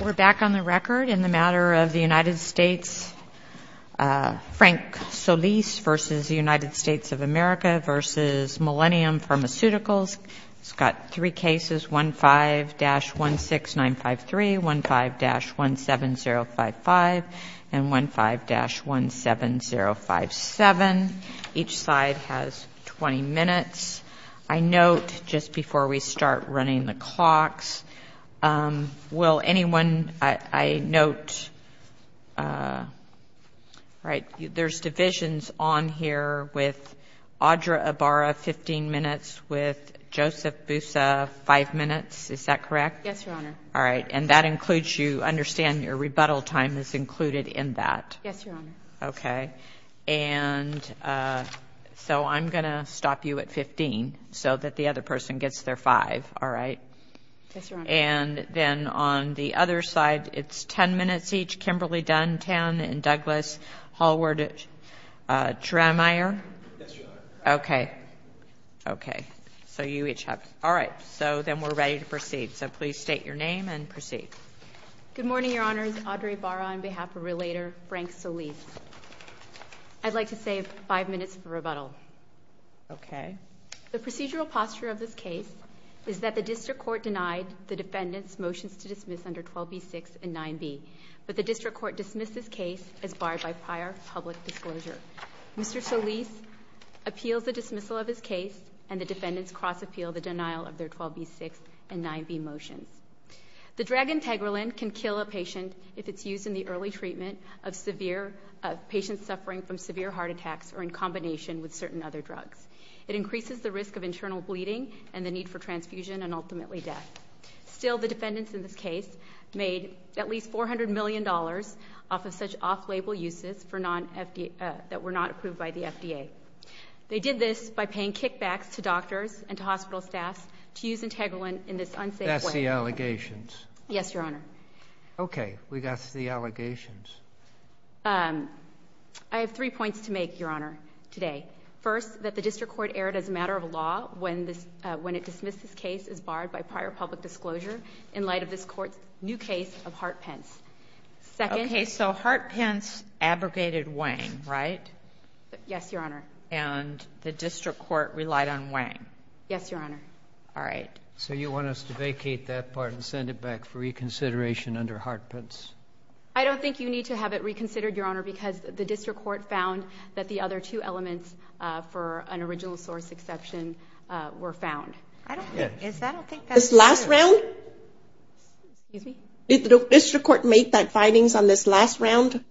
We're back on the record in the matter of the United States. Frank Solis v. United States of America v. Millennium Pharmaceuticals has got three cases, 15-16953, 15-17055, and 15-17057. Each side has 20 minutes. I note, just before we start running the clocks, will anyone, I note, there's divisions on here with Audra Ibarra, 15 minutes, with Joseph Boussa, 5 minutes. Is that correct? Yes, Your Honor. All right. And that includes, you understand, your rebuttal time is included in that. Yes, Your Honor. Okay. And so I'm going to stop you at 15 so that the other person gets their 5. All right? Yes, Your Honor. And then on the other side, it's 10 minutes each. Kimberly Dunn, 10, and Douglas Hallward-Trameyer. Yes, Your Honor. Okay. Okay. So you each have. All right. So then we're ready to proceed. So please state your name and proceed. Good morning, Your Honors. Audra Ibarra on behalf of Relator Frank Solis. I'd like to save 5 minutes for rebuttal. Okay. The procedural posture of this case is that the district court denied the defendants' motions to dismiss under 12b6 and 9b, but the district court dismissed this case as barred by prior public disclosure. Mr. Solis appeals the dismissal of his case, and the defendants cross-appeal the denial of their 12b6 and 9b motions. The drug Integrolin can kill a patient if it's used in the early treatment of severe patients suffering from severe heart attacks or in combination with certain other drugs. It increases the risk of internal bleeding and the need for transfusion and ultimately death. Still, the defendants in this case made at least $400 million off of such off-label uses that were not approved by the FDA. They did this by paying kickbacks to doctors and to hospital staff to use Integrolin in this unsafe way. We got the allegations. Yes, Your Honor. Okay, we got the allegations. I have three points to make, Your Honor, today. First, that the district court erred as a matter of law when it dismissed this case as barred by prior public disclosure in light of this court's new case of Hart-Pence. Okay, so Hart-Pence abrogated Wang, right? Yes, Your Honor. And the district court relied on Wang? Yes, Your Honor. All right. So you want us to vacate that part and send it back for reconsideration under Hart-Pence? I don't think you need to have it reconsidered, Your Honor, because the district court found that the other two elements for an original source exception were found. I don't think that's true. This last round? Excuse me? Did the district court make that findings on this last round?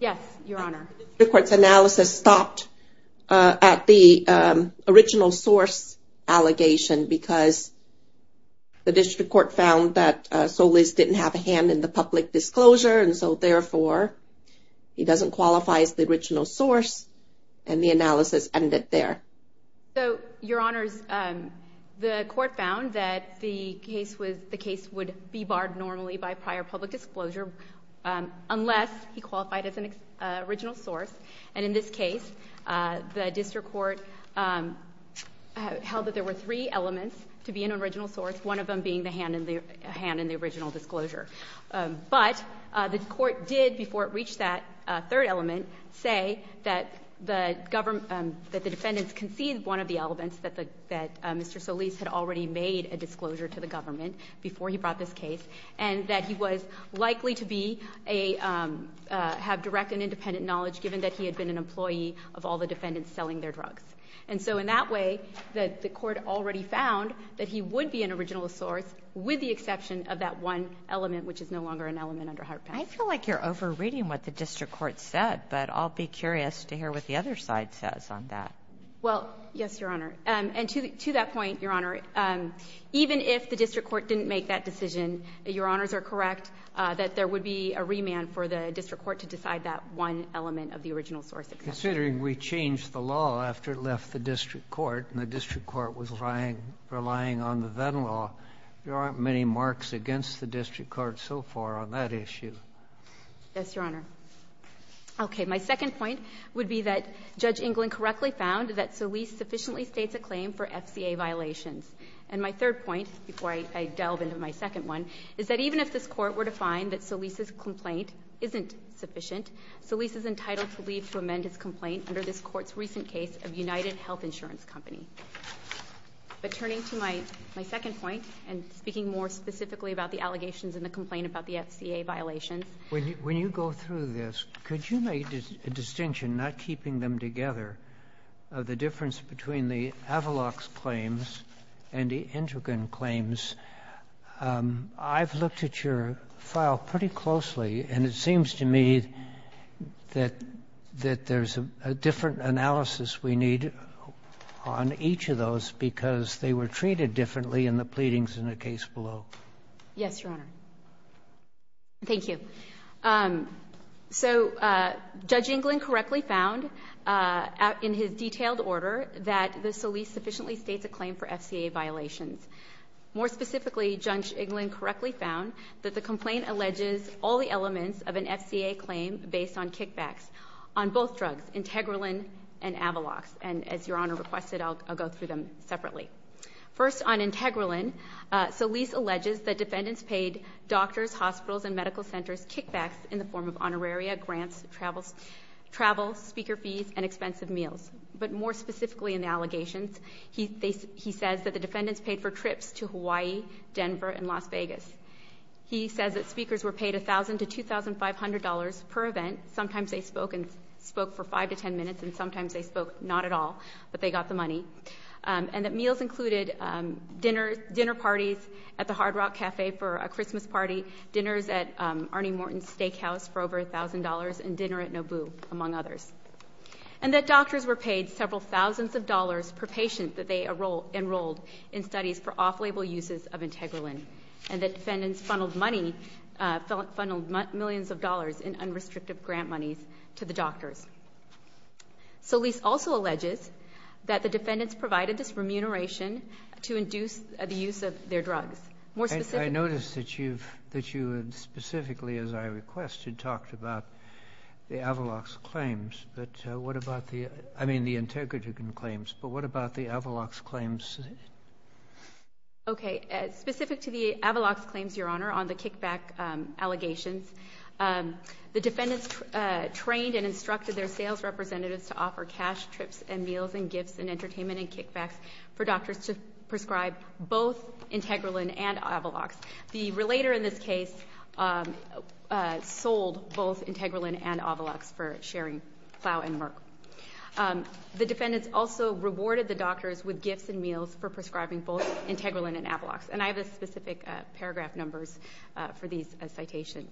Yes, Your Honor. The district court's analysis stopped at the original source allegation because the district court found that Solis didn't have a hand in the public disclosure, and so therefore he doesn't qualify as the original source, and the analysis ended there. So, Your Honors, the court found that the case would be barred normally by prior public disclosure unless he qualified as an original source, and in this case the district court held that there were three elements to be an original source, one of them being the hand in the original disclosure. But the court did, before it reached that third element, say that the defendants conceded one of the elements, that Mr. Solis had already made a disclosure to the government before he brought this case, and that he was likely to have direct and independent knowledge given that he had been an employee of all the defendants selling their drugs. And so in that way, the court already found that he would be an original source with the exception of that one element, which is no longer an element under Hart Pass. I feel like you're over-reading what the district court said, but I'll be curious to hear what the other side says on that. Well, yes, Your Honor, and to that point, Your Honor, even if the district court didn't make that decision, Your Honors are correct that there would be a remand for the district court to decide that one element of the original source exception. Considering we changed the law after it left the district court and the district court was relying on the then law, there aren't many marks against the district court so far on that issue. Yes, Your Honor. Okay. My second point would be that Judge England correctly found that Solis sufficiently states a claim for FCA violations. And my third point, before I delve into my second one, is that even if this court were to find that Solis's complaint isn't sufficient, Solis is entitled to leave to amend his complaint under this court's recent case of United Health Insurance Company. But turning to my second point, and speaking more specifically about the allegations and the complaint about the FCA violations. When you go through this, could you make a distinction, not keeping them together, of the difference between the Avalox claims and the Endergan claims? I've looked at your file pretty closely, and it seems to me that there's a different analysis we need on each of those because they were treated differently in the pleadings in the case below. Yes, Your Honor. Thank you. So Judge England correctly found in his detailed order that the Solis sufficiently states a claim for FCA violations. More specifically, Judge England correctly found that the complaint alleges all the elements of an FCA claim based on kickbacks on both drugs, Integralin and Avalox. And as Your Honor requested, I'll go through them separately. First, on Integralin, Solis alleges that defendants paid doctors, hospitals, and medical centers kickbacks in the form of honoraria, grants, travel, speaker fees, and expensive meals. But more specifically in the allegations, he says that the defendants paid for trips to Hawaii, Denver, and Las Vegas. He says that speakers were paid $1,000 to $2,500 per event. Sometimes they spoke for 5 to 10 minutes, and sometimes they spoke not at all, but they got the money. And that meals included dinner parties at the Hard Rock Cafe for a Christmas party, dinners at Arnie Morton's Steakhouse for over $1,000, and dinner at Nobu, among others. And that doctors were paid several thousands of dollars per patient that they enrolled in studies for off-label uses of Integralin. And that defendants funneled money, funneled millions of dollars in unrestricted grant monies to the doctors. Solis also alleges that the defendants provided disremuneration to induce the use of their drugs. I noticed that you specifically, as I requested, talked about the Avalox claims. But what about the Integralin claims? But what about the Avalox claims? Okay. Specific to the Avalox claims, Your Honor, on the kickback allegations, the defendants trained and instructed their sales representatives to offer cash, trips, and meals, and gifts, and entertainment, and kickbacks for doctors to prescribe both Integralin and Avalox. The relator in this case sold both Integralin and Avalox for sharing plow and murk. The defendants also rewarded the doctors with gifts and meals for prescribing both Integralin and Avalox. And I have the specific paragraph numbers for these citations.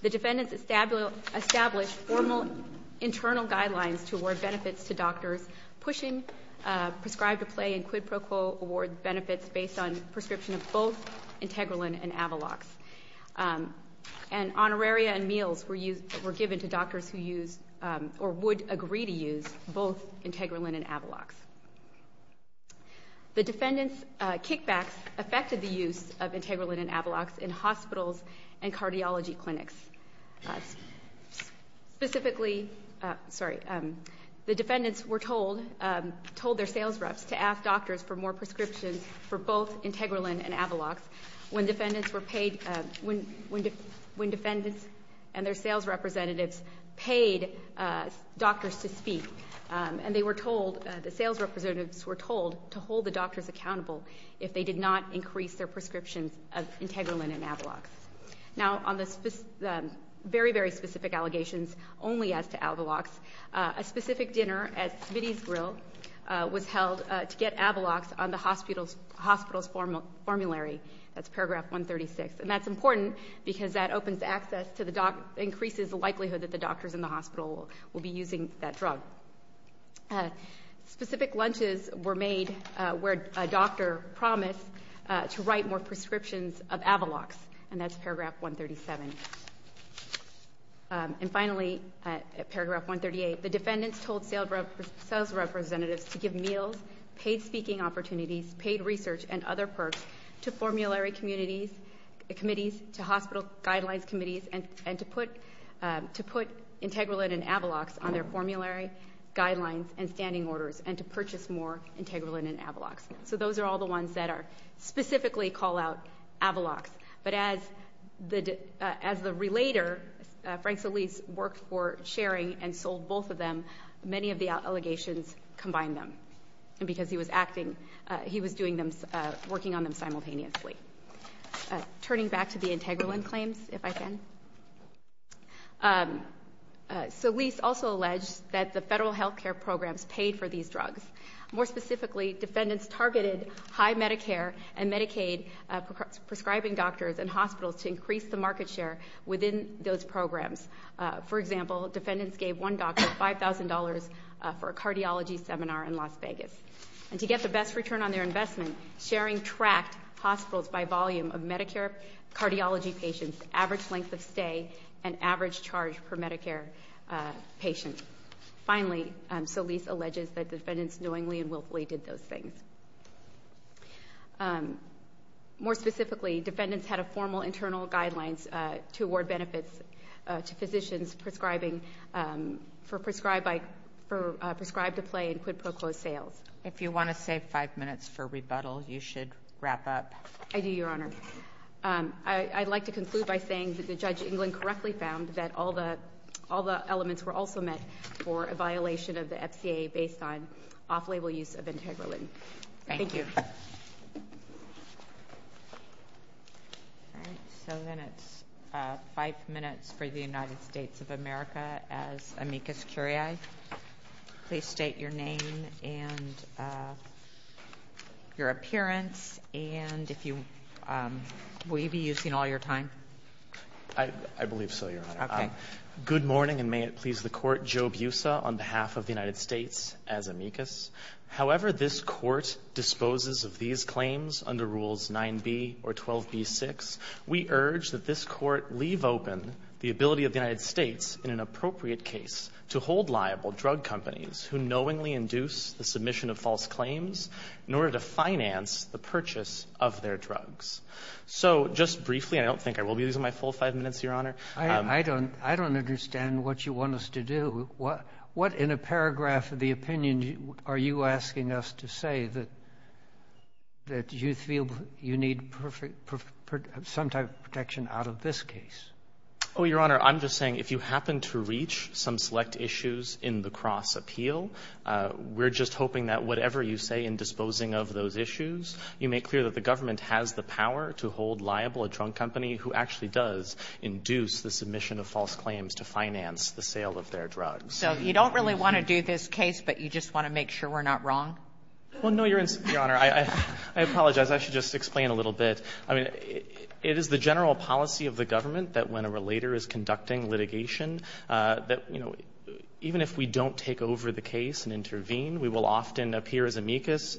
The defendants established formal internal guidelines to award benefits to doctors pushing prescribed-to-play and quid pro quo award benefits based on prescription of both Integralin and Avalox. And honoraria and meals were given to doctors who use or would agree to use both Integralin and Avalox. The defendants' kickbacks affected the use of Integralin and Avalox in hospitals and cardiology clinics. Specifically, the defendants were told their sales reps to ask doctors for more prescriptions for both Integralin and Avalox when defendants and their sales representatives paid doctors to speak. And the sales representatives were told to hold the doctors accountable if they did not increase their prescriptions of Integralin and Avalox. Now, on the very, very specific allegations only as to Avalox, a specific dinner at Smitty's Grill was held to get Avalox on the hospital's formulary. That's paragraph 136. And that's important because that increases the likelihood that the doctors in the hospital will be using that drug. Specific lunches were made where a doctor promised to write more prescriptions of Avalox. And that's paragraph 137. And finally, paragraph 138, the defendants told sales representatives to give meals, paid speaking opportunities, paid research, and other perks to formulary committees, to hospital guidelines committees, and to put Integralin and Avalox on their formulary guidelines and standing orders and to purchase more Integralin and Avalox. So those are all the ones that specifically call out Avalox. But as the relater, Frank Solis, worked for, sharing, and sold both of them, many of the allegations combined them because he was acting, he was working on them simultaneously. Turning back to the Integralin claims, if I can. Solis also alleged that the federal health care programs paid for these drugs. More specifically, defendants targeted high Medicare and Medicaid prescribing doctors and hospitals to increase the market share within those programs. For example, defendants gave one doctor $5,000 for a cardiology seminar in Las Vegas. And to get the best return on their investment, sharing tracked hospitals by volume of Medicare cardiology patients, average length of stay, and average charge per Medicare patient. Finally, Solis alleges that defendants knowingly and willfully did those things. More specifically, defendants had a formal internal guidelines to award benefits to physicians prescribed to play in quid pro quo sales. If you want to save five minutes for rebuttal, you should wrap up. I do, Your Honor. I'd like to conclude by saying that the Judge England correctly found that all the elements were also met for a violation of the FCA based on off-label use of Integralin. Thank you. So then it's five minutes for the United States of America. As amicus curiae, please state your name and your appearance. And will you be using all your time? I believe so, Your Honor. Good morning, and may it please the Court. Joe Busa on behalf of the United States as amicus. However this Court disposes of these claims under Rules 9b or 12b-6, we urge that this Court leave open the ability of the United States, in an appropriate case, to hold liable drug companies who knowingly induce the submission of false claims in order to finance the purchase of their drugs. So just briefly, I don't think I will be using my full five minutes, Your Honor. I don't understand what you want us to do. What in a paragraph of the opinion are you asking us to say that you feel you need some type of protection out of this case? Oh, Your Honor, I'm just saying if you happen to reach some select issues in the cross appeal, we're just hoping that whatever you say in disposing of those issues, you make clear that the government has the power to hold liable a drug company who actually does induce the submission of false claims to finance the sale of their drugs. So you don't really want to do this case, but you just want to make sure we're not wrong? Well, no, Your Honor. I apologize. I should just explain a little bit. I mean, it is the general policy of the government that when a relator is conducting litigation that, you know, even if we don't take over the case and intervene, we will often appear as amicus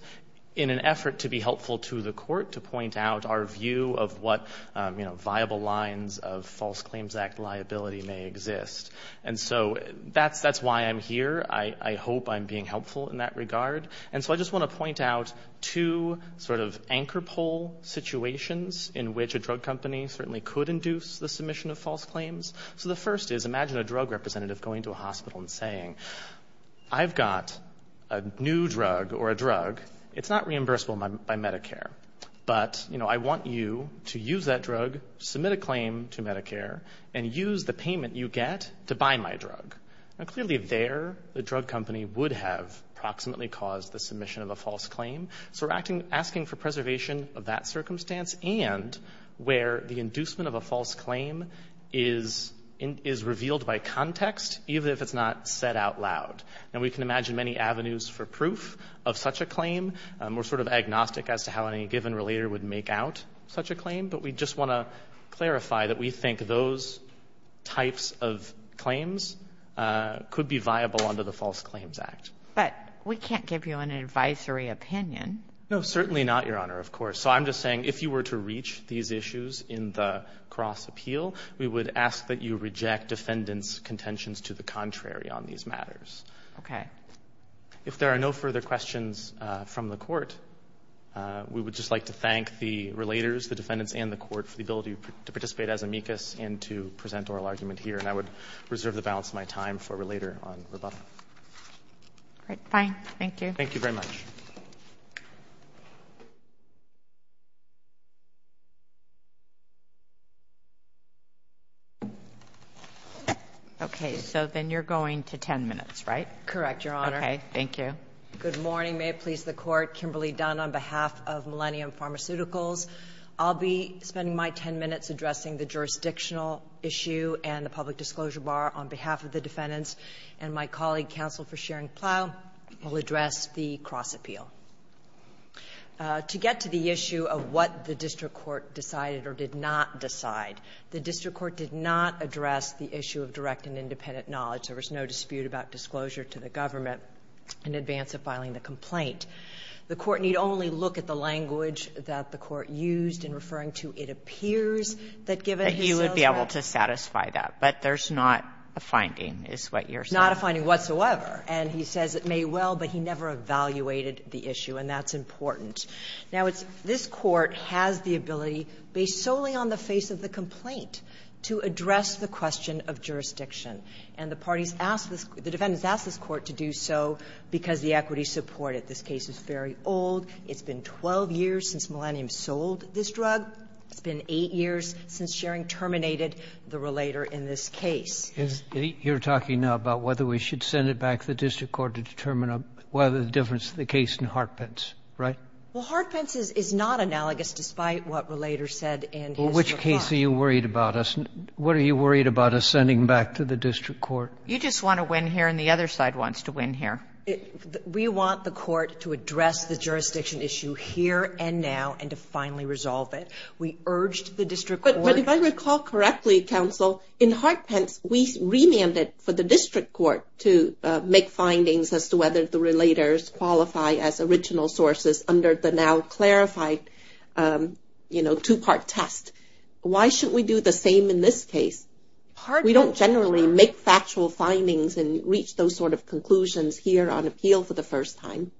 in an effort to be helpful to the court, to point out our view of what viable lines of False Claims Act liability may exist. And so that's why I'm here. I hope I'm being helpful in that regard. And so I just want to point out two sort of anchor pole situations in which a drug company certainly could induce the submission of false claims. So the first is, imagine a drug representative going to a hospital and saying, I've got a new drug or a drug. It's not reimbursable by Medicare, but, you know, I want you to use that drug, submit a claim to Medicare, and use the payment you get to buy my drug. Now, clearly there the drug company would have approximately caused the submission of a false claim. So we're asking for preservation of that circumstance and where the inducement of a false claim is revealed by context, even if it's not said out loud. Now, we can imagine many avenues for proof of such a claim. We're sort of agnostic as to how any given relator would make out such a claim, but we just want to clarify that we think those types of claims could be viable under the False Claims Act. But we can't give you an advisory opinion. No, certainly not, Your Honor, of course. So I'm just saying if you were to reach these issues in the cross-appeal, we would ask that you reject defendants' contentions to the contrary on these matters. Okay. If there are no further questions from the Court, we would just like to thank the relators, the defendants, and the Court for the ability to participate as amicus and to present oral argument here. And I would reserve the balance of my time for later on rebuttal. All right. Fine. Thank you. Thank you very much. Okay. So then you're going to 10 minutes, right? Correct, Your Honor. Okay. Thank you. Good morning. May it please the Court. Kimberly Dunn on behalf of Millennium Pharmaceuticals. I'll be spending my 10 minutes addressing the jurisdictional issue and the public disclosure bar on behalf of the defendants. And my colleague, counsel for Sharon Plow, will address the cross-appeal. To get to the issue of what the district court decided or did not decide, the district court did not address the issue of direct and independent knowledge. There was no dispute about disclosure to the government in advance of filing the complaint. The Court need only look at the language that the Court used in referring to it appears that given the sales rate. I'm sorry. To be able to satisfy that. But there's not a finding, is what you're saying. Not a finding whatsoever. And he says it may well, but he never evaluated the issue, and that's important. Now, it's this Court has the ability, based solely on the face of the complaint, to address the question of jurisdiction. And the parties asked this the defendants asked this Court to do so because the equity supported. This case is very old. It's been 12 years since Millennium sold this drug. It's been 8 years since Schering terminated the relator in this case. You're talking now about whether we should send it back to the district court to determine whether the difference in the case in Hartpence, right? Well, Hartpence is not analogous, despite what Relator said and his reply. Well, which case are you worried about us? What are you worried about us sending back to the district court? You just want to win here, and the other side wants to win here. We want the Court to address the jurisdiction issue here and now and to finally resolve it. We urged the district court. But if I recall correctly, Counsel, in Hartpence, we remanded for the district court to make findings as to whether the Relators qualify as original sources under the now clarified, you know, two-part test. Why should we do the same in this case? We don't generally make factual findings and reach those sort of conclusions here on appeal for the first time.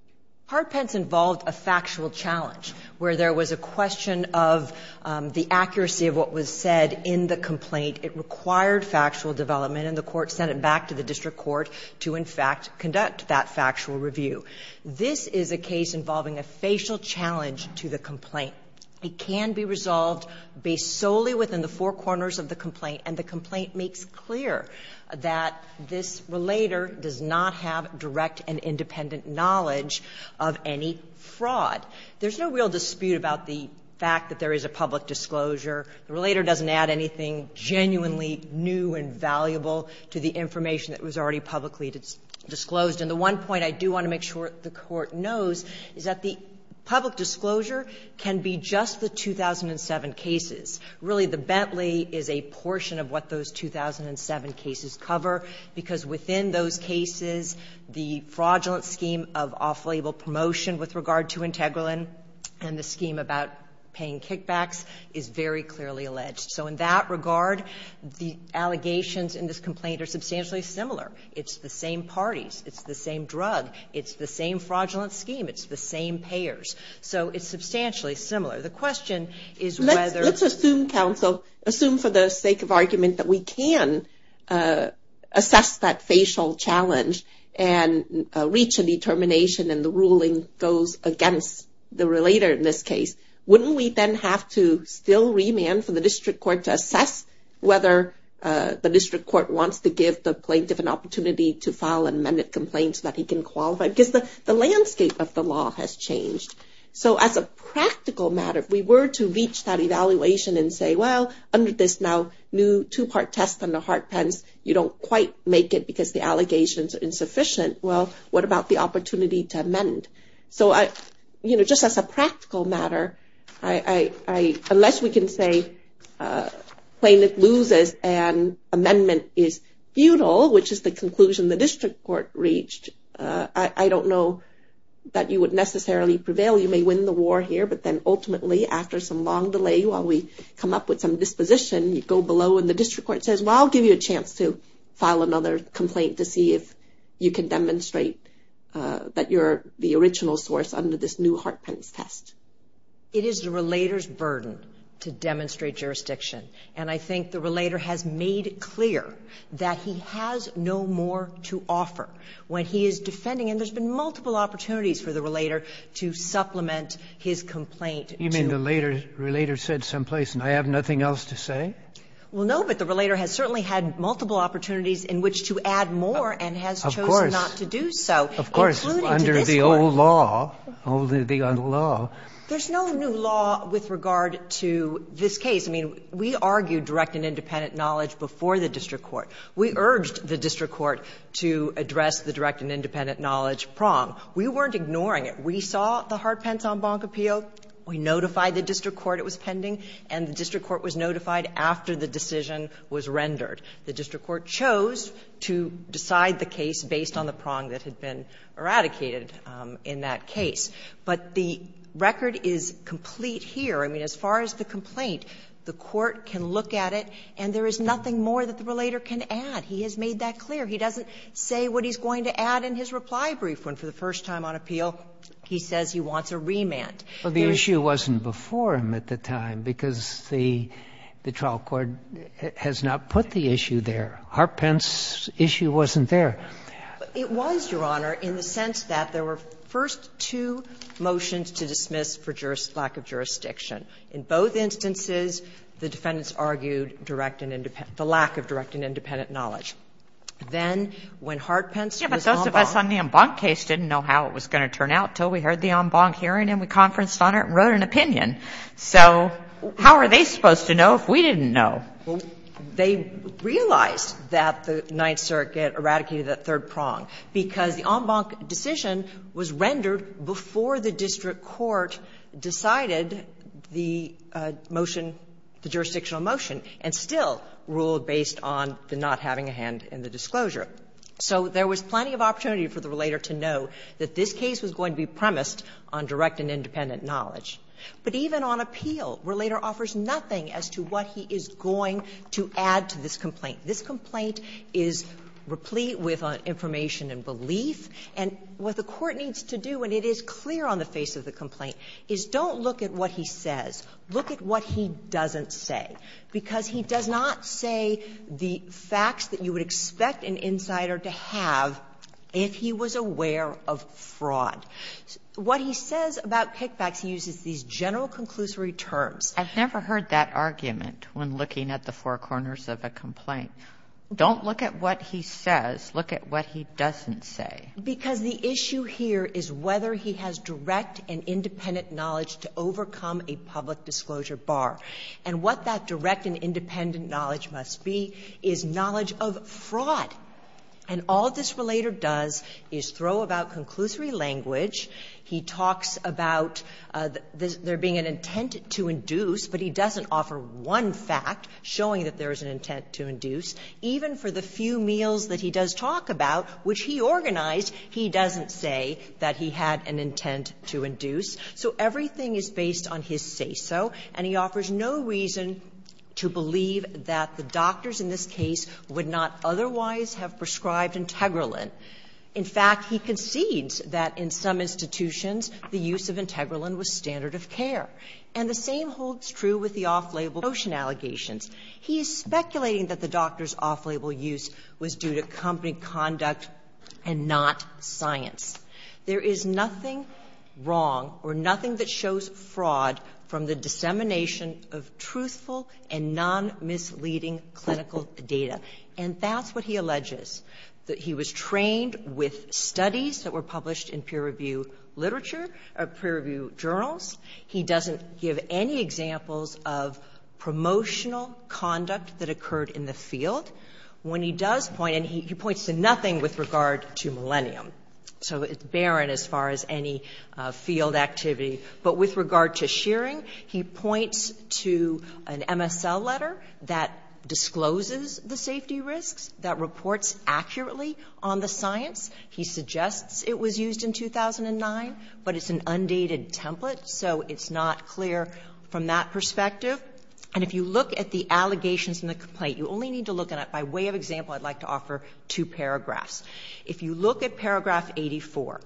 Hartpence involved a factual challenge where there was a question of the accuracy of what was said in the complaint. It required factual development, and the Court sent it back to the district court to, in fact, conduct that factual review. This is a case involving a facial challenge to the complaint. It can be resolved based solely within the four corners of the complaint, and the knowledge of any fraud. There's no real dispute about the fact that there is a public disclosure. The Relator doesn't add anything genuinely new and valuable to the information that was already publicly disclosed. And the one point I do want to make sure the Court knows is that the public disclosure can be just the 2007 cases. Really, the Bentley is a portion of what those 2007 cases cover, because within those cases, the fraudulent scheme of off-label promotion with regard to Integralin and the scheme about paying kickbacks is very clearly alleged. So in that regard, the allegations in this complaint are substantially similar. It's the same parties. It's the same drug. It's the same fraudulent scheme. It's the same payers. So it's substantially similar. The question is whether — and reach a determination, and the ruling goes against the Relator in this case. Wouldn't we then have to still remand for the District Court to assess whether the District Court wants to give the plaintiff an opportunity to file an amended complaint so that he can qualify? Because the landscape of the law has changed. So as a practical matter, if we were to reach that evaluation and say, well, under this now new two-part test on the hard pens, you don't quite make it because the allegations are insufficient. Well, what about the opportunity to amend? So, you know, just as a practical matter, unless we can say plaintiff loses and amendment is futile, which is the conclusion the District Court reached, I don't know that you would necessarily prevail. You may win the war here. But then ultimately, after some long delay, while we come up with some disposition, you go below and the District Court says, well, I'll give you a chance to file another complaint to see if you can demonstrate that you're the original source under this new hard pens test. It is the Relator's burden to demonstrate jurisdiction. And I think the Relator has made clear that he has no more to offer. When he is defending, and there's been multiple opportunities for the Relator to file a complaint to. You mean the Relator said someplace, and I have nothing else to say? Well, no. But the Relator has certainly had multiple opportunities in which to add more and has chosen not to do so. Of course. Of course, under the old law, the old law. There's no new law with regard to this case. I mean, we argued direct and independent knowledge before the District Court. We urged the District Court to address the direct and independent knowledge prong. We weren't ignoring it. We saw the hard pens on Bonk Appeal. We notified the District Court it was pending. And the District Court was notified after the decision was rendered. The District Court chose to decide the case based on the prong that had been eradicated in that case. But the record is complete here. I mean, as far as the complaint, the Court can look at it, and there is nothing more that the Relator can add. He has made that clear. He doesn't say what he's going to add in his reply brief. When for the first time on appeal, he says he wants a remand. Sotomayor, the issue wasn't before him at the time because the trial court has not put the issue there. Hart-Pence's issue wasn't there. It was, Your Honor, in the sense that there were first two motions to dismiss for lack of jurisdiction. In both instances, the defendants argued direct and independent, the lack of direct and independent knowledge. Then when Hart-Pence was on Bonk. The Bonk case didn't know how it was going to turn out until we heard the En Bonk hearing and we conferenced on it and wrote an opinion. So how are they supposed to know if we didn't know? They realized that the Ninth Circuit eradicated that third prong because the En Bonk decision was rendered before the District Court decided the motion, the jurisdictional motion, and still ruled based on the not having a hand in the disclosure. So there was plenty of opportunity for the relator to know that this case was going to be premised on direct and independent knowledge. But even on appeal, relator offers nothing as to what he is going to add to this complaint. This complaint is replete with information and belief. And what the Court needs to do, and it is clear on the face of the complaint, is don't look at what he says. Look at what he doesn't say, because he does not say the facts that you would expect an insider to have if he was aware of fraud. What he says about kickbacks, he uses these general conclusory terms. I've never heard that argument when looking at the four corners of a complaint. Don't look at what he says. Look at what he doesn't say. Because the issue here is whether he has direct and independent knowledge to overcome a public disclosure bar. And what that direct and independent knowledge must be is knowledge of fraud. And all this relator does is throw about conclusory language. He talks about there being an intent to induce, but he doesn't offer one fact showing that there is an intent to induce. Even for the few meals that he does talk about, which he organized, he doesn't say that he had an intent to induce. So everything is based on his say-so, and he offers no reason to believe that the doctors in this case would not otherwise have prescribed Integralin. In fact, he concedes that in some institutions the use of Integralin was standard of care. And the same holds true with the off-label notion allegations. He is speculating that the doctor's off-label use was due to company conduct and not science. There is nothing wrong or nothing that shows fraud from the dissemination of truthful and non-misleading clinical data. And that's what he alleges, that he was trained with studies that were published in peer-review literature, peer-review journals. He doesn't give any examples of promotional conduct that occurred in the field. When he does point, and he points to nothing with regard to Millennium. So it's barren as far as any field activity. But with regard to shearing, he points to an MSL letter that discloses the safety risks, that reports accurately on the science. He suggests it was used in 2009, but it's an undated template, so it's not clear from that perspective. And if you look at the allegations in the complaint, you only need to look at it, by way of example, I'd like to offer two paragraphs. If you look at paragraph 84,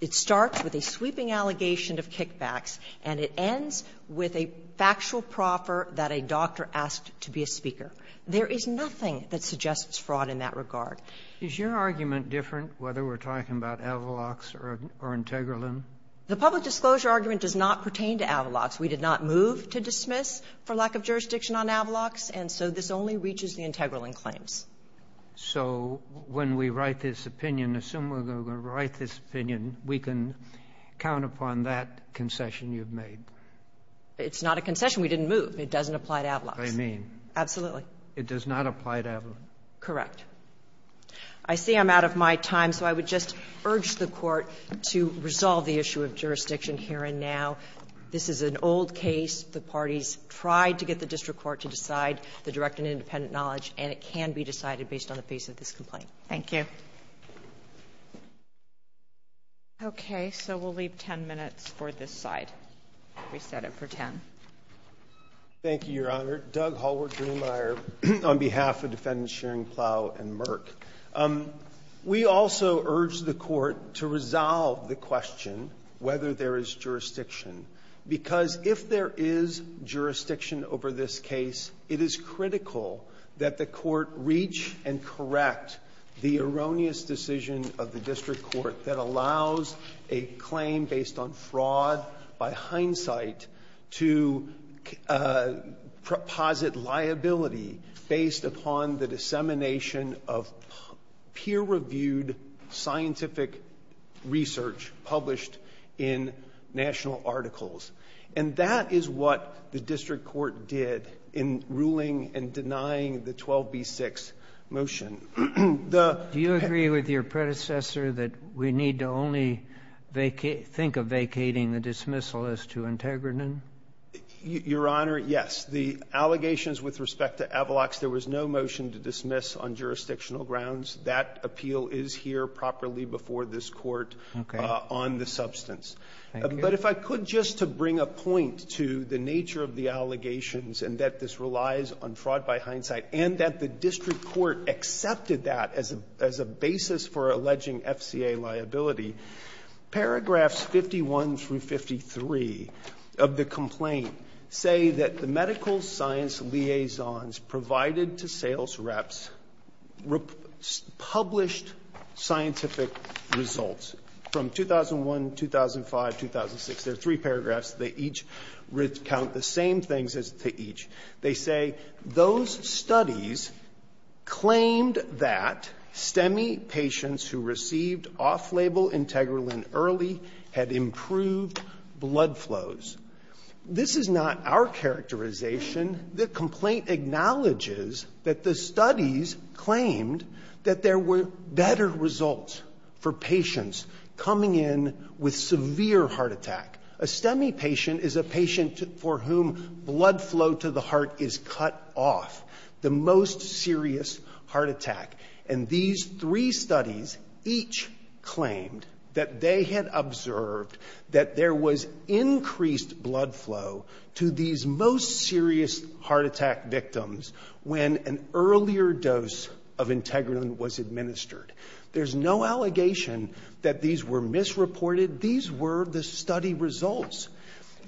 it starts with a sweeping allegation of kickbacks and it ends with a factual proffer that a doctor asked to be a speaker. There is nothing that suggests fraud in that regard. Roberts. Is your argument different, whether we're talking about Avalox or Integralin? Blatt. The public disclosure argument does not pertain to Avalox. We did not move to dismiss for lack of jurisdiction on Avalox, and so this only reaches the Integralin claims. So when we write this opinion, assume we're going to write this opinion, we can count upon that concession you've made? It's not a concession. We didn't move. It doesn't apply to Avalox. I mean. Absolutely. It does not apply to Avalox. Correct. I see I'm out of my time, so I would just urge the Court to resolve the issue of jurisdiction here and now. This is an old case. The parties tried to get the district court to decide the direct and independent knowledge, and it can be decided based on the base of this complaint. Thank you. Okay. So we'll leave 10 minutes for this side. We set it for 10. Thank you, Your Honor. Doug Hallward-Durmeier on behalf of Defendants Schering-Plough and Merck. We also urge the Court to resolve the question whether there is jurisdiction, because if there is jurisdiction over this case, it is critical that the Court reach and correct the erroneous decision of the district court that allows a claim based on fraud by hindsight to posit liability based upon the dissemination of peer-reviewed scientific research published in national articles. And that is what the district court did in ruling and denying the 12b-6 motion. Do you agree with your predecessor that we need to only think of vacating the dismissal as too integrative? Your Honor, yes. The allegations with respect to Avalox, there was no motion to dismiss on jurisdictional grounds. That appeal is here properly before this Court on the substance. But if I could just to bring a point to the nature of the allegations and that this relies on fraud by hindsight and that the district court accepted that as a basis for alleging FCA liability, paragraphs 51 through 53 of the complaint say that the published scientific results from 2001, 2005, 2006, there are three paragraphs. They each recount the same things as to each. They say those studies claimed that STEMI patients who received off-label integralin early had improved blood flows. This is not our characterization. The complaint acknowledges that the studies claimed that there were better results for patients coming in with severe heart attack. A STEMI patient is a patient for whom blood flow to the heart is cut off, the most serious heart attack. And these three studies each claimed that they had observed that there was increased blood flow to these most serious heart attack victims when an earlier dose of integralin was administered. There's no allegation that these were misreported. These were the study results.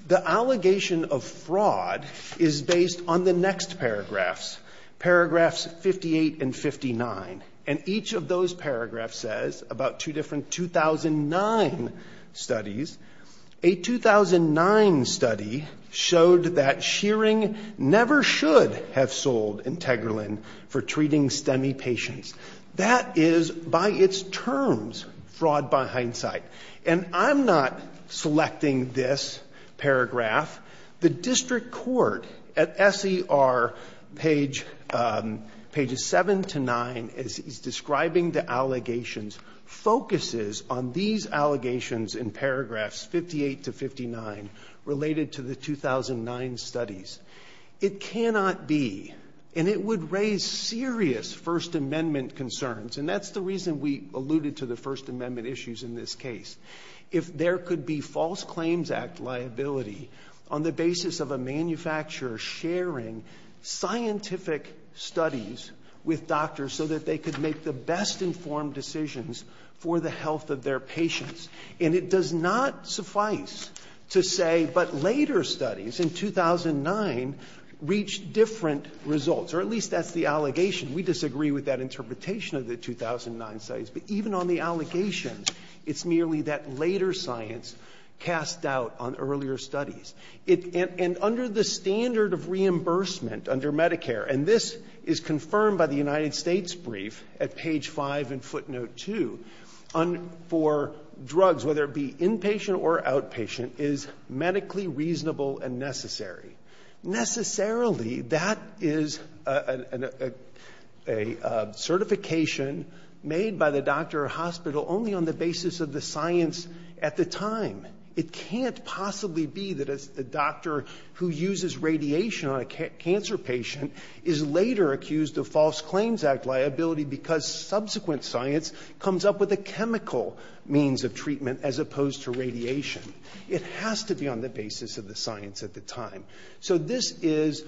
The allegation of fraud is based on the next paragraphs, paragraphs 58 and 59. And each of those paragraphs says about two different 2009 studies. A 2009 study showed that Shearing never should have sold integralin for treating STEMI patients. That is by its terms fraud by hindsight. And I'm not selecting this paragraph. The district court at SER pages 7 to 9 is describing the allegations, focuses on these allegations in paragraphs 58 to 59 related to the 2009 studies. It cannot be, and it would raise serious First Amendment concerns, and that's the reason we alluded to the First Amendment issues in this case. If there could be false claims act liability on the basis of a manufacturer sharing scientific studies with doctors so that they could make the best informed decisions for the health of their patients, and it does not suffice to say, but later studies in 2009 reached different results, or at least that's the allegation. We disagree with that interpretation of the 2009 studies. But even on the allegations, it's merely that later science cast doubt on earlier studies. And under the standard of reimbursement under Medicare, and this is confirmed by the United States brief at page 5 in footnote 2, for drugs, whether it be inpatient or inpatient, it is not liability. Necessarily, that is a certification made by the doctor or hospital only on the basis of the science at the time. It can't possibly be that a doctor who uses radiation on a cancer patient is later accused of false claims act liability because subsequent science comes up with a chemical means of treatment as opposed to radiation. It has to be on the basis of the science at the time. So this is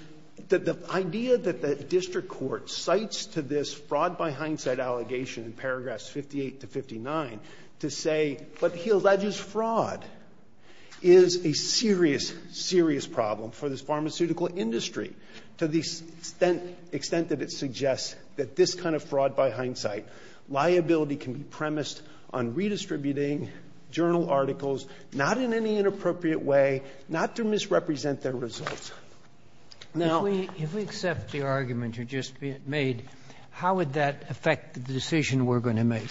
the idea that the district court cites to this fraud by hindsight allegation in paragraphs 58 to 59 to say, but he alleges fraud is a serious, serious problem for this pharmaceutical industry to the extent that it suggests that this kind of fraud by hindsight liability can be premised on redistributing journal articles, not in any appropriate way, not to misrepresent their results. Now we accept the argument you just made. How would that affect the decision we're going to make?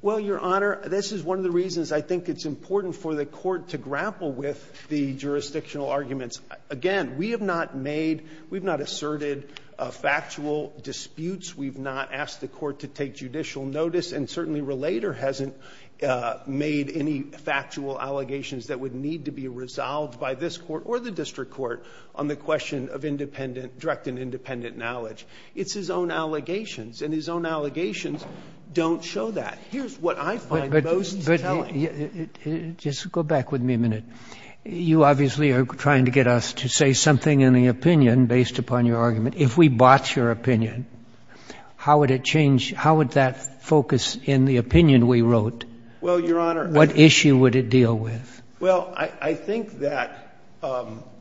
Well, Your Honor, this is one of the reasons I think it's important for the court to grapple with the jurisdictional arguments. Again, we have not made, we've not asserted factual disputes. We've not asked the court to take judicial notice. And certainly Relater hasn't made any factual allegations that would need to be resolved by this court or the district court on the question of independent, direct and independent knowledge. It's his own allegations, and his own allegations don't show that. Here's what I find most telling. But just go back with me a minute. You obviously are trying to get us to say something in the opinion based upon your argument. If we bought your opinion, how would it change? How would that focus in the opinion we wrote? Well, Your Honor. What issue would it deal with? Well, I think that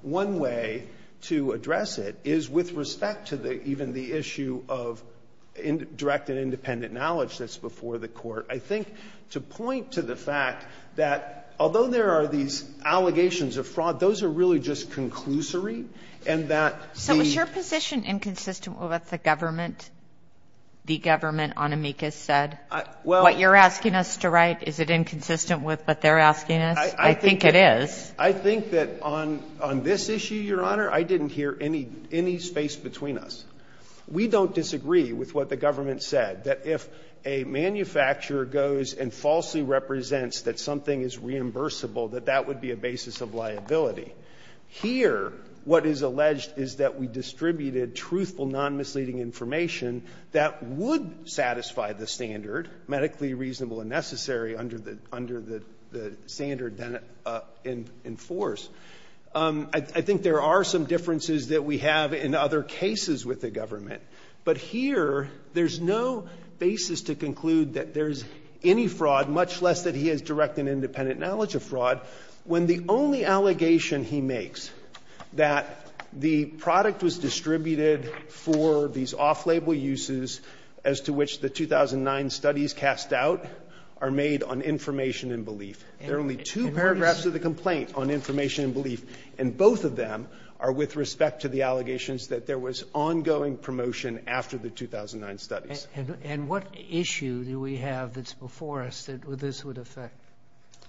one way to address it is with respect to even the issue of direct and independent knowledge that's before the court. I think to point to the fact that although there are these allegations of fraud, those are really just conclusory. And that the So is your position inconsistent with what the government, the government on amicus said? Well, what you're asking us to write, is it inconsistent with what they're asking us? I think it is. I think that on this issue, Your Honor, I didn't hear any space between us. We don't disagree with what the government said, that if a manufacturer goes and falsely represents that something is reimbursable, that that would be a basis of liability. Here, what is alleged is that we distributed truthful, non-misleading information that would satisfy the standard, medically reasonable and necessary under the standard that it enforced. I think there are some differences that we have in other cases with the government. But here, there's no basis to conclude that there's any fraud, much less that he has direct and independent knowledge of fraud. When the only allegation he makes, that the product was distributed for these off-label uses as to which the 2009 studies cast doubt, are made on information and belief. There are only two paragraphs of the complaint on information and belief, and both of them are with respect to the allegations that there was ongoing promotion after the 2009 studies. And what issue do we have that's before us that this would affect?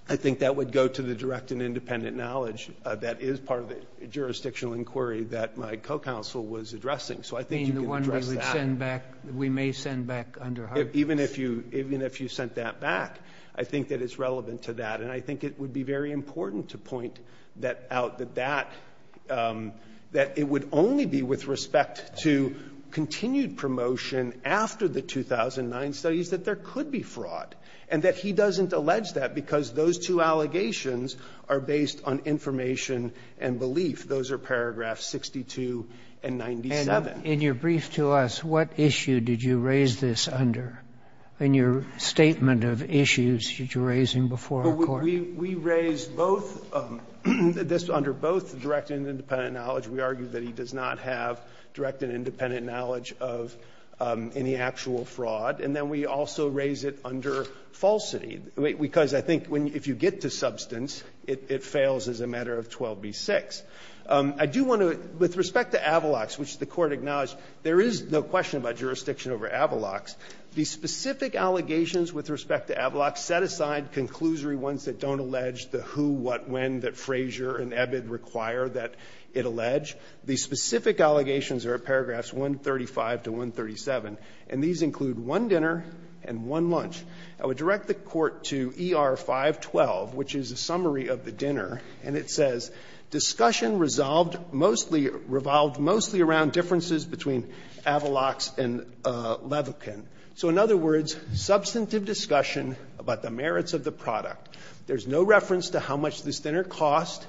I think that would go to the direct and independent knowledge that is part of the jurisdictional inquiry that my co-counsel was addressing. So I think you can address that. You mean the one we would send back, we may send back under hard case? Even if you sent that back, I think that it's relevant to that. And I think it would be very important to point that out, that it would only be with respect to continued promotion after the 2009 studies, that there could be fraud. And that he doesn't allege that because those two allegations are based on information and belief. Those are paragraphs 62 and 97. And in your brief to us, what issue did you raise this under? In your statement of issues that you're raising before our Court? We raised both, this under both direct and independent knowledge. We argue that he does not have direct and independent knowledge of any actual fraud. And then we also raise it under falsity. Because I think if you get to substance, it fails as a matter of 12b-6. I do want to, with respect to Avalox, which the Court acknowledged, there is no question about jurisdiction over Avalox. The specific allegations with respect to Avalox set aside conclusory ones that don't allege the who, what, when that Frazier and Ebbitt require that it allege. The specific allegations are at paragraphs 135 to 137. And these include one dinner and one lunch. I would direct the Court to ER-512, which is a summary of the dinner. And it says, Discussion revolved mostly around differences between Avalox and Levokin. So in other words, substantive discussion about the merits of the product. There's no reference to how much this dinner cost.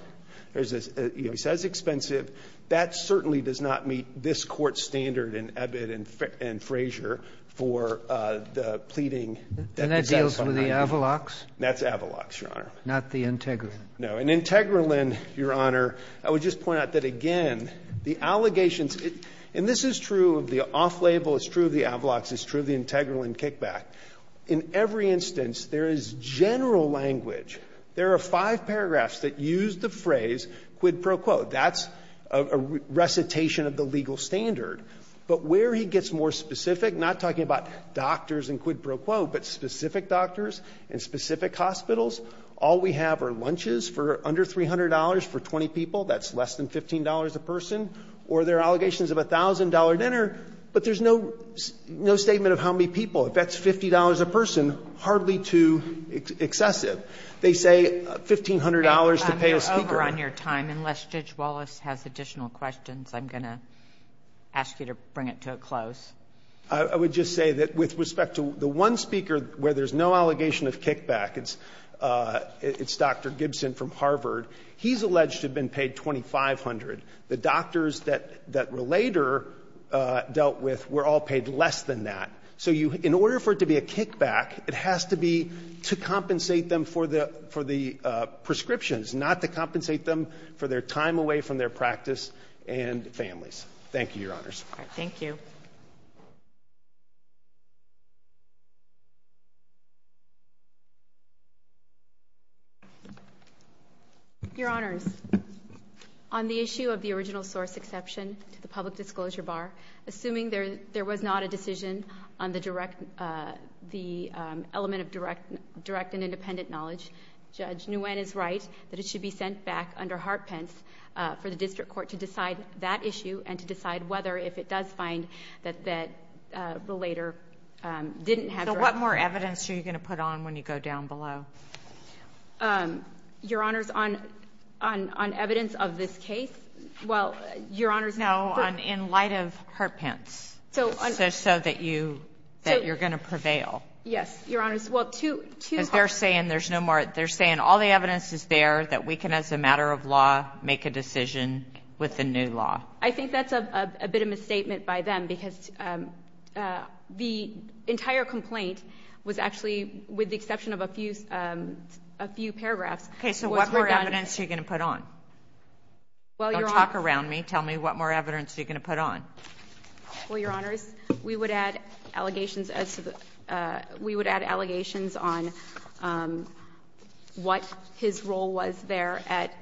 There's a, he says expensive. That certainly does not meet this Court's standard in Ebbitt and Frazier for the pleading that the gentleman made. And that deals with the Avalox? That's Avalox, Your Honor. Not the Integralin? No. And Integralin, Your Honor, I would just point out that, again, the allegations and this is true of the off-label, it's true of the Avalox, it's true of the Integralin kickback. In every instance, there is general language. There are five paragraphs that use the phrase quid pro quo. That's a recitation of the legal standard. But where he gets more specific, not talking about doctors and quid pro quo, but specific doctors and specific hospitals, all we have are lunches for under $300 for 20 people. That's less than $15 a person. Or there are allegations of $1,000 dinner, but there's no statement of how many people. If that's $50 a person, hardly too excessive. They say $1,500 to pay a speaker. Unless Judge Wallace has additional questions, I'm going to ask you to bring it to a close. I would just say that with respect to the one speaker where there's no allegation of kickback, it's Dr. Gibson from Harvard. He's alleged to have been paid $2,500. The doctors that were later dealt with were all paid less than that. So in order for it to be a kickback, it has to be to compensate them for the prescriptions, not to compensate them for their time away from their practice and families. Thank you, Your Honors. Thank you. Your Honors, on the issue of the original source exception to the public disclosure bar, assuming there was not a decision on the element of direct and independent knowledge, Judge Nguyen is right that it should be sent back under Hart-Pence for the district court to decide that issue and to decide whether, if it does find that that relator didn't have direct knowledge. So what more evidence are you going to put on when you go down below? Your Honors, on evidence of this case, well, Your Honors. No, in light of Hart-Pence, so that you're going to prevail. Yes, Your Honors. Because they're saying all the evidence is there that we can, as a matter of law, make a decision with the new law. I think that's a bit of a misstatement by them, because the entire complaint was actually, with the exception of a few paragraphs. OK, so what more evidence are you going to put on? Don't talk around me. Tell me what more evidence you're going to put on. Well, Your Honors, we would add allegations on what his role was there at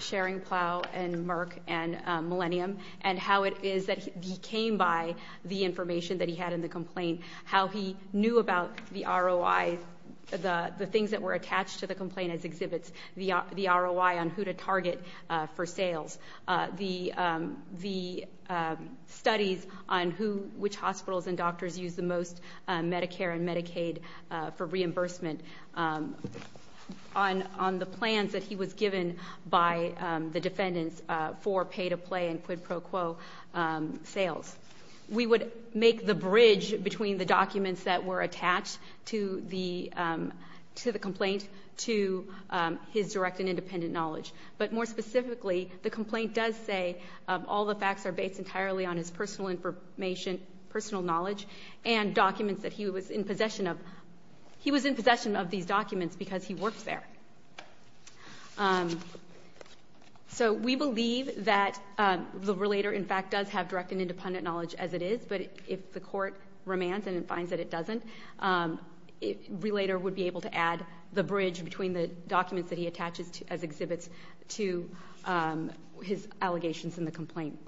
sharing Plough and Merck and Millennium, and how it is that he came by the information that he had in the complaint. How he knew about the ROI, the things that were attached to the complaint as exhibits, the ROI on who to target for sales. The studies on which hospitals and doctors use the most Medicare and Medicaid for reimbursement, on the plans that he was given by the defendants for pay-to-play and quid pro quo sales. We would make the bridge between the documents that were attached to the complaint to his direct and independent knowledge. But more specifically, the complaint does say all the facts are based entirely on his personal information, personal knowledge, and documents that he was in possession of. He was in possession of these documents because he worked there. So we believe that the relator, in fact, does have direct and independent knowledge as it is. But if the court remands and it finds that it doesn't, the relator would be able to add the bridge between the documents that he had to his allegations in the complaint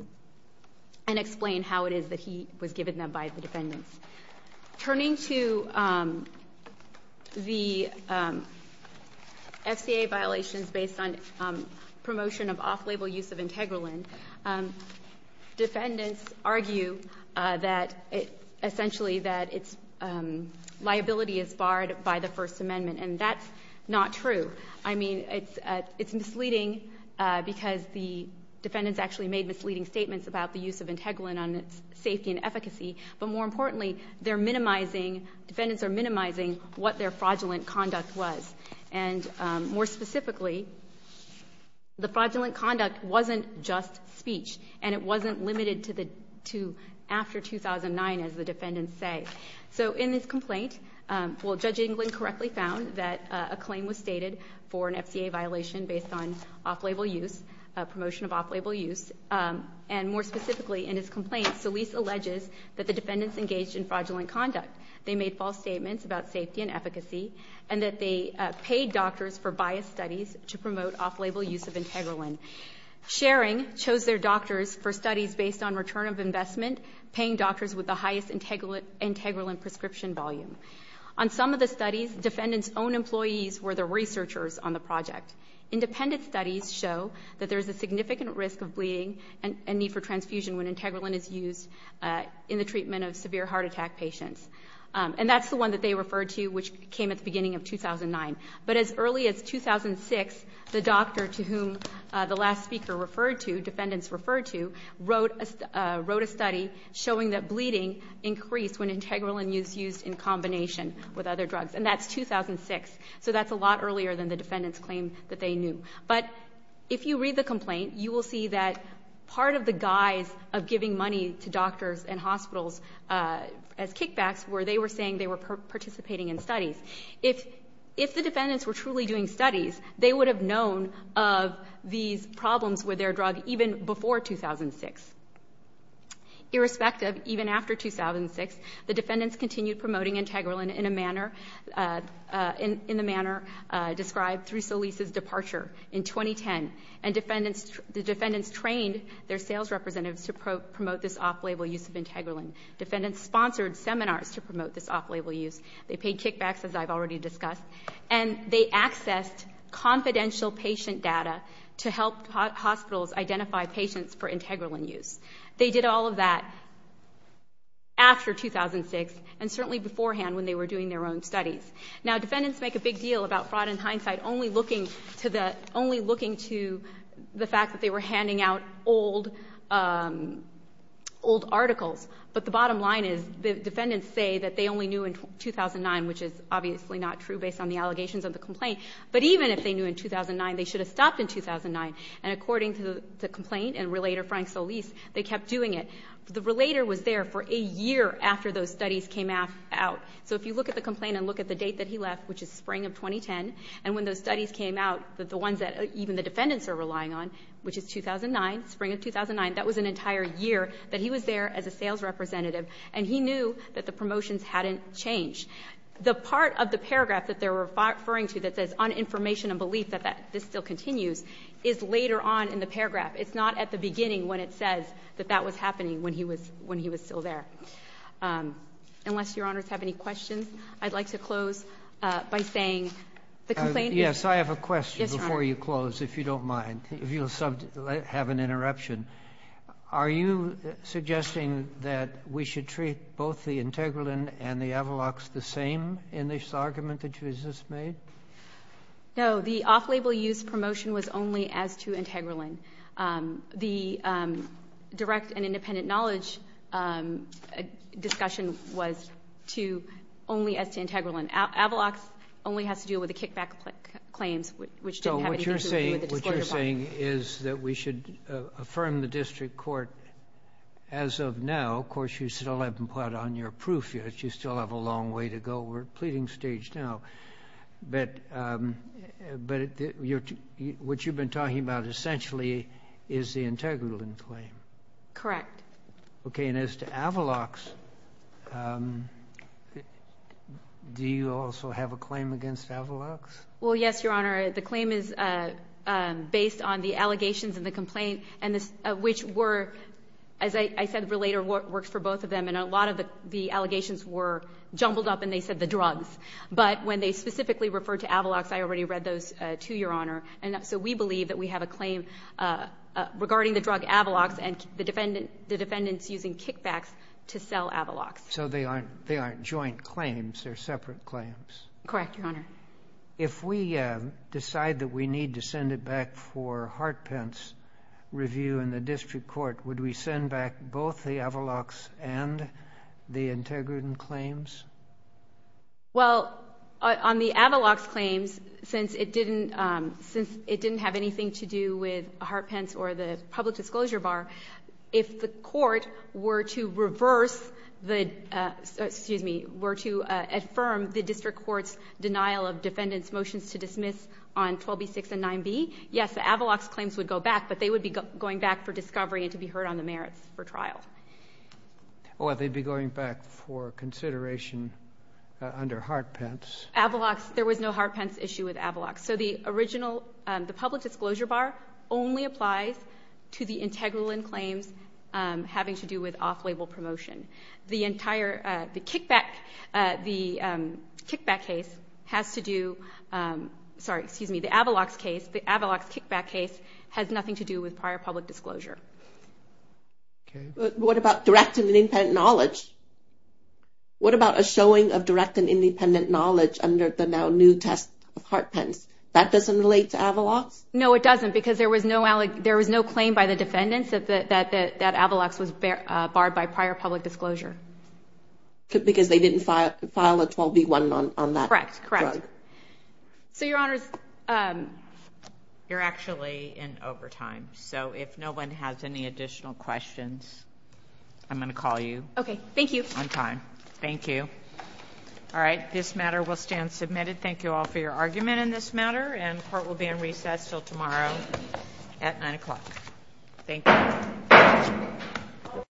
and explain how it is that he was given them by the defendants. Turning to the FCA violations based on promotion of off-label use of IntegraLyn, defendants argue that, essentially, that its liability is barred by the First Amendment. And that's not true. I mean, it's misleading because the defendants actually made misleading statements about the use of IntegraLyn on its safety and efficacy. But more importantly, defendants are minimizing what their fraudulent conduct was. And more specifically, the fraudulent conduct wasn't just speech. And it wasn't limited to after 2009, as the defendants say. So in this complaint, Judge Englund correctly found that a claim was stated for an FCA violation based on off-label use, promotion of off-label use. And more specifically, in his complaint, Solis alleges that the defendants engaged in fraudulent conduct. They made false statements about safety and efficacy and that they paid doctors for biased studies to promote off-label use of IntegraLyn. Sharing chose their doctors for studies based on return of investment, paying doctors with the highest IntegraLyn prescription volume. On some of the studies, defendants' own employees were the researchers on the project. Independent studies show that there's a significant risk of bleeding and need for transfusion when IntegraLyn is used in the treatment of severe heart attack patients. And that's the one that they referred to, which came at the beginning of 2009. But as early as 2006, the doctor to whom the last speaker referred to, wrote a study showing that bleeding increased when IntegraLyn is used in combination with other drugs. And that's 2006. So that's a lot earlier than the defendants' claim that they knew. But if you read the complaint, you will see that part of the guise of giving money to doctors and hospitals as kickbacks were they were saying they were participating in studies. If the defendants were truly doing studies, they would have known of these drugs even before 2006. Irrespective, even after 2006, the defendants continued promoting IntegraLyn in a manner described through Solis's departure in 2010. And the defendants trained their sales representatives to promote this off-label use of IntegraLyn. Defendants sponsored seminars to promote this off-label use. They paid kickbacks, as I've already discussed. And they accessed confidential patient data to help hospitals identify patients for IntegraLyn use. They did all of that after 2006, and certainly beforehand when they were doing their own studies. Now, defendants make a big deal about fraud in hindsight only looking to the fact that they were handing out old articles. But the bottom line is the defendants say that they only knew in 2009, which is obviously not true based on the allegations of the complaint. But even if they knew in 2009, they should have stopped in 2009. And according to the complaint and relator Frank Solis, they kept doing it. The relator was there for a year after those studies came out. So if you look at the complaint and look at the date that he left, which is spring of 2010, and when those studies came out, the ones that even the defendants are relying on, which is 2009, spring of 2009, that was an entire year that he was there as a sales representative. And he knew that the promotions hadn't changed. The part of the paragraph that they're referring to that says on information and belief that this still continues is later on in the paragraph. It's not at the beginning when it says that that was happening when he was still there. Unless Your Honors have any questions, I'd like to close by saying the complaint is true. Yes, I have a question before you close, if you don't mind, if you'll have an interruption. Are you suggesting that we should treat both the Integralin and the Avalox the same in this argument that you just made? No, the off-label use promotion was only as to Integralin. The direct and independent knowledge discussion was to only as to Integralin. Avalox only has to do with the kickback claims, which didn't have anything to do So you're saying from the district court as of now, of course, you still haven't put on your proof yet. You still have a long way to go. We're at the pleading stage now, but what you've been talking about essentially is the Integralin claim. Correct. Okay, and as to Avalox, do you also have a claim against Avalox? Well, yes, Your Honor. The claim is based on the allegations and the complaint, which were, as I said later, works for both of them. And a lot of the allegations were jumbled up and they said the drugs. But when they specifically referred to Avalox, I already read those too, Your Honor. And so we believe that we have a claim regarding the drug Avalox and the defendants using kickbacks to sell Avalox. So they aren't joint claims. They're separate claims. Correct, Your Honor. If we decide that we need to send it back for Hartpence review in the district court, would we send back both the Avalox and the Integralin claims? Well, on the Avalox claims, since it didn't have anything to do with Hartpence or the public disclosure bar, if the court were to reverse the, excuse me, were to affirm the district court's denial of defendants' motions to dismiss on 12B6 and 9B, yes, the Avalox claims would go back, but they would be going back for discovery and to be heard on the merits for trial. Or they'd be going back for consideration under Hartpence. Avalox. There was no Hartpence issue with Avalox. So the original, the public disclosure bar only applies to the Integralin claims having to do with off-label promotion. The entire, the kickback, the kickback case has to do, sorry, excuse me, the Avalox case, the Avalox kickback case has nothing to do with prior public disclosure. What about direct and independent knowledge? What about a showing of direct and independent knowledge under the now new test of Hartpence? That doesn't relate to Avalox? No, it doesn't because there was no claim by the defendants that Avalox was barred by prior public disclosure. Because they didn't file a 12B1 on that drug. Correct, correct. So, Your Honors, you're actually in overtime. So if no one has any additional questions, I'm going to call you. Okay, thank you. On time. Thank you. All right, this matter will stand submitted. Thank you all for your argument in this matter. And court will be in recess until tomorrow at 9 o'clock. Thank you. Thank you.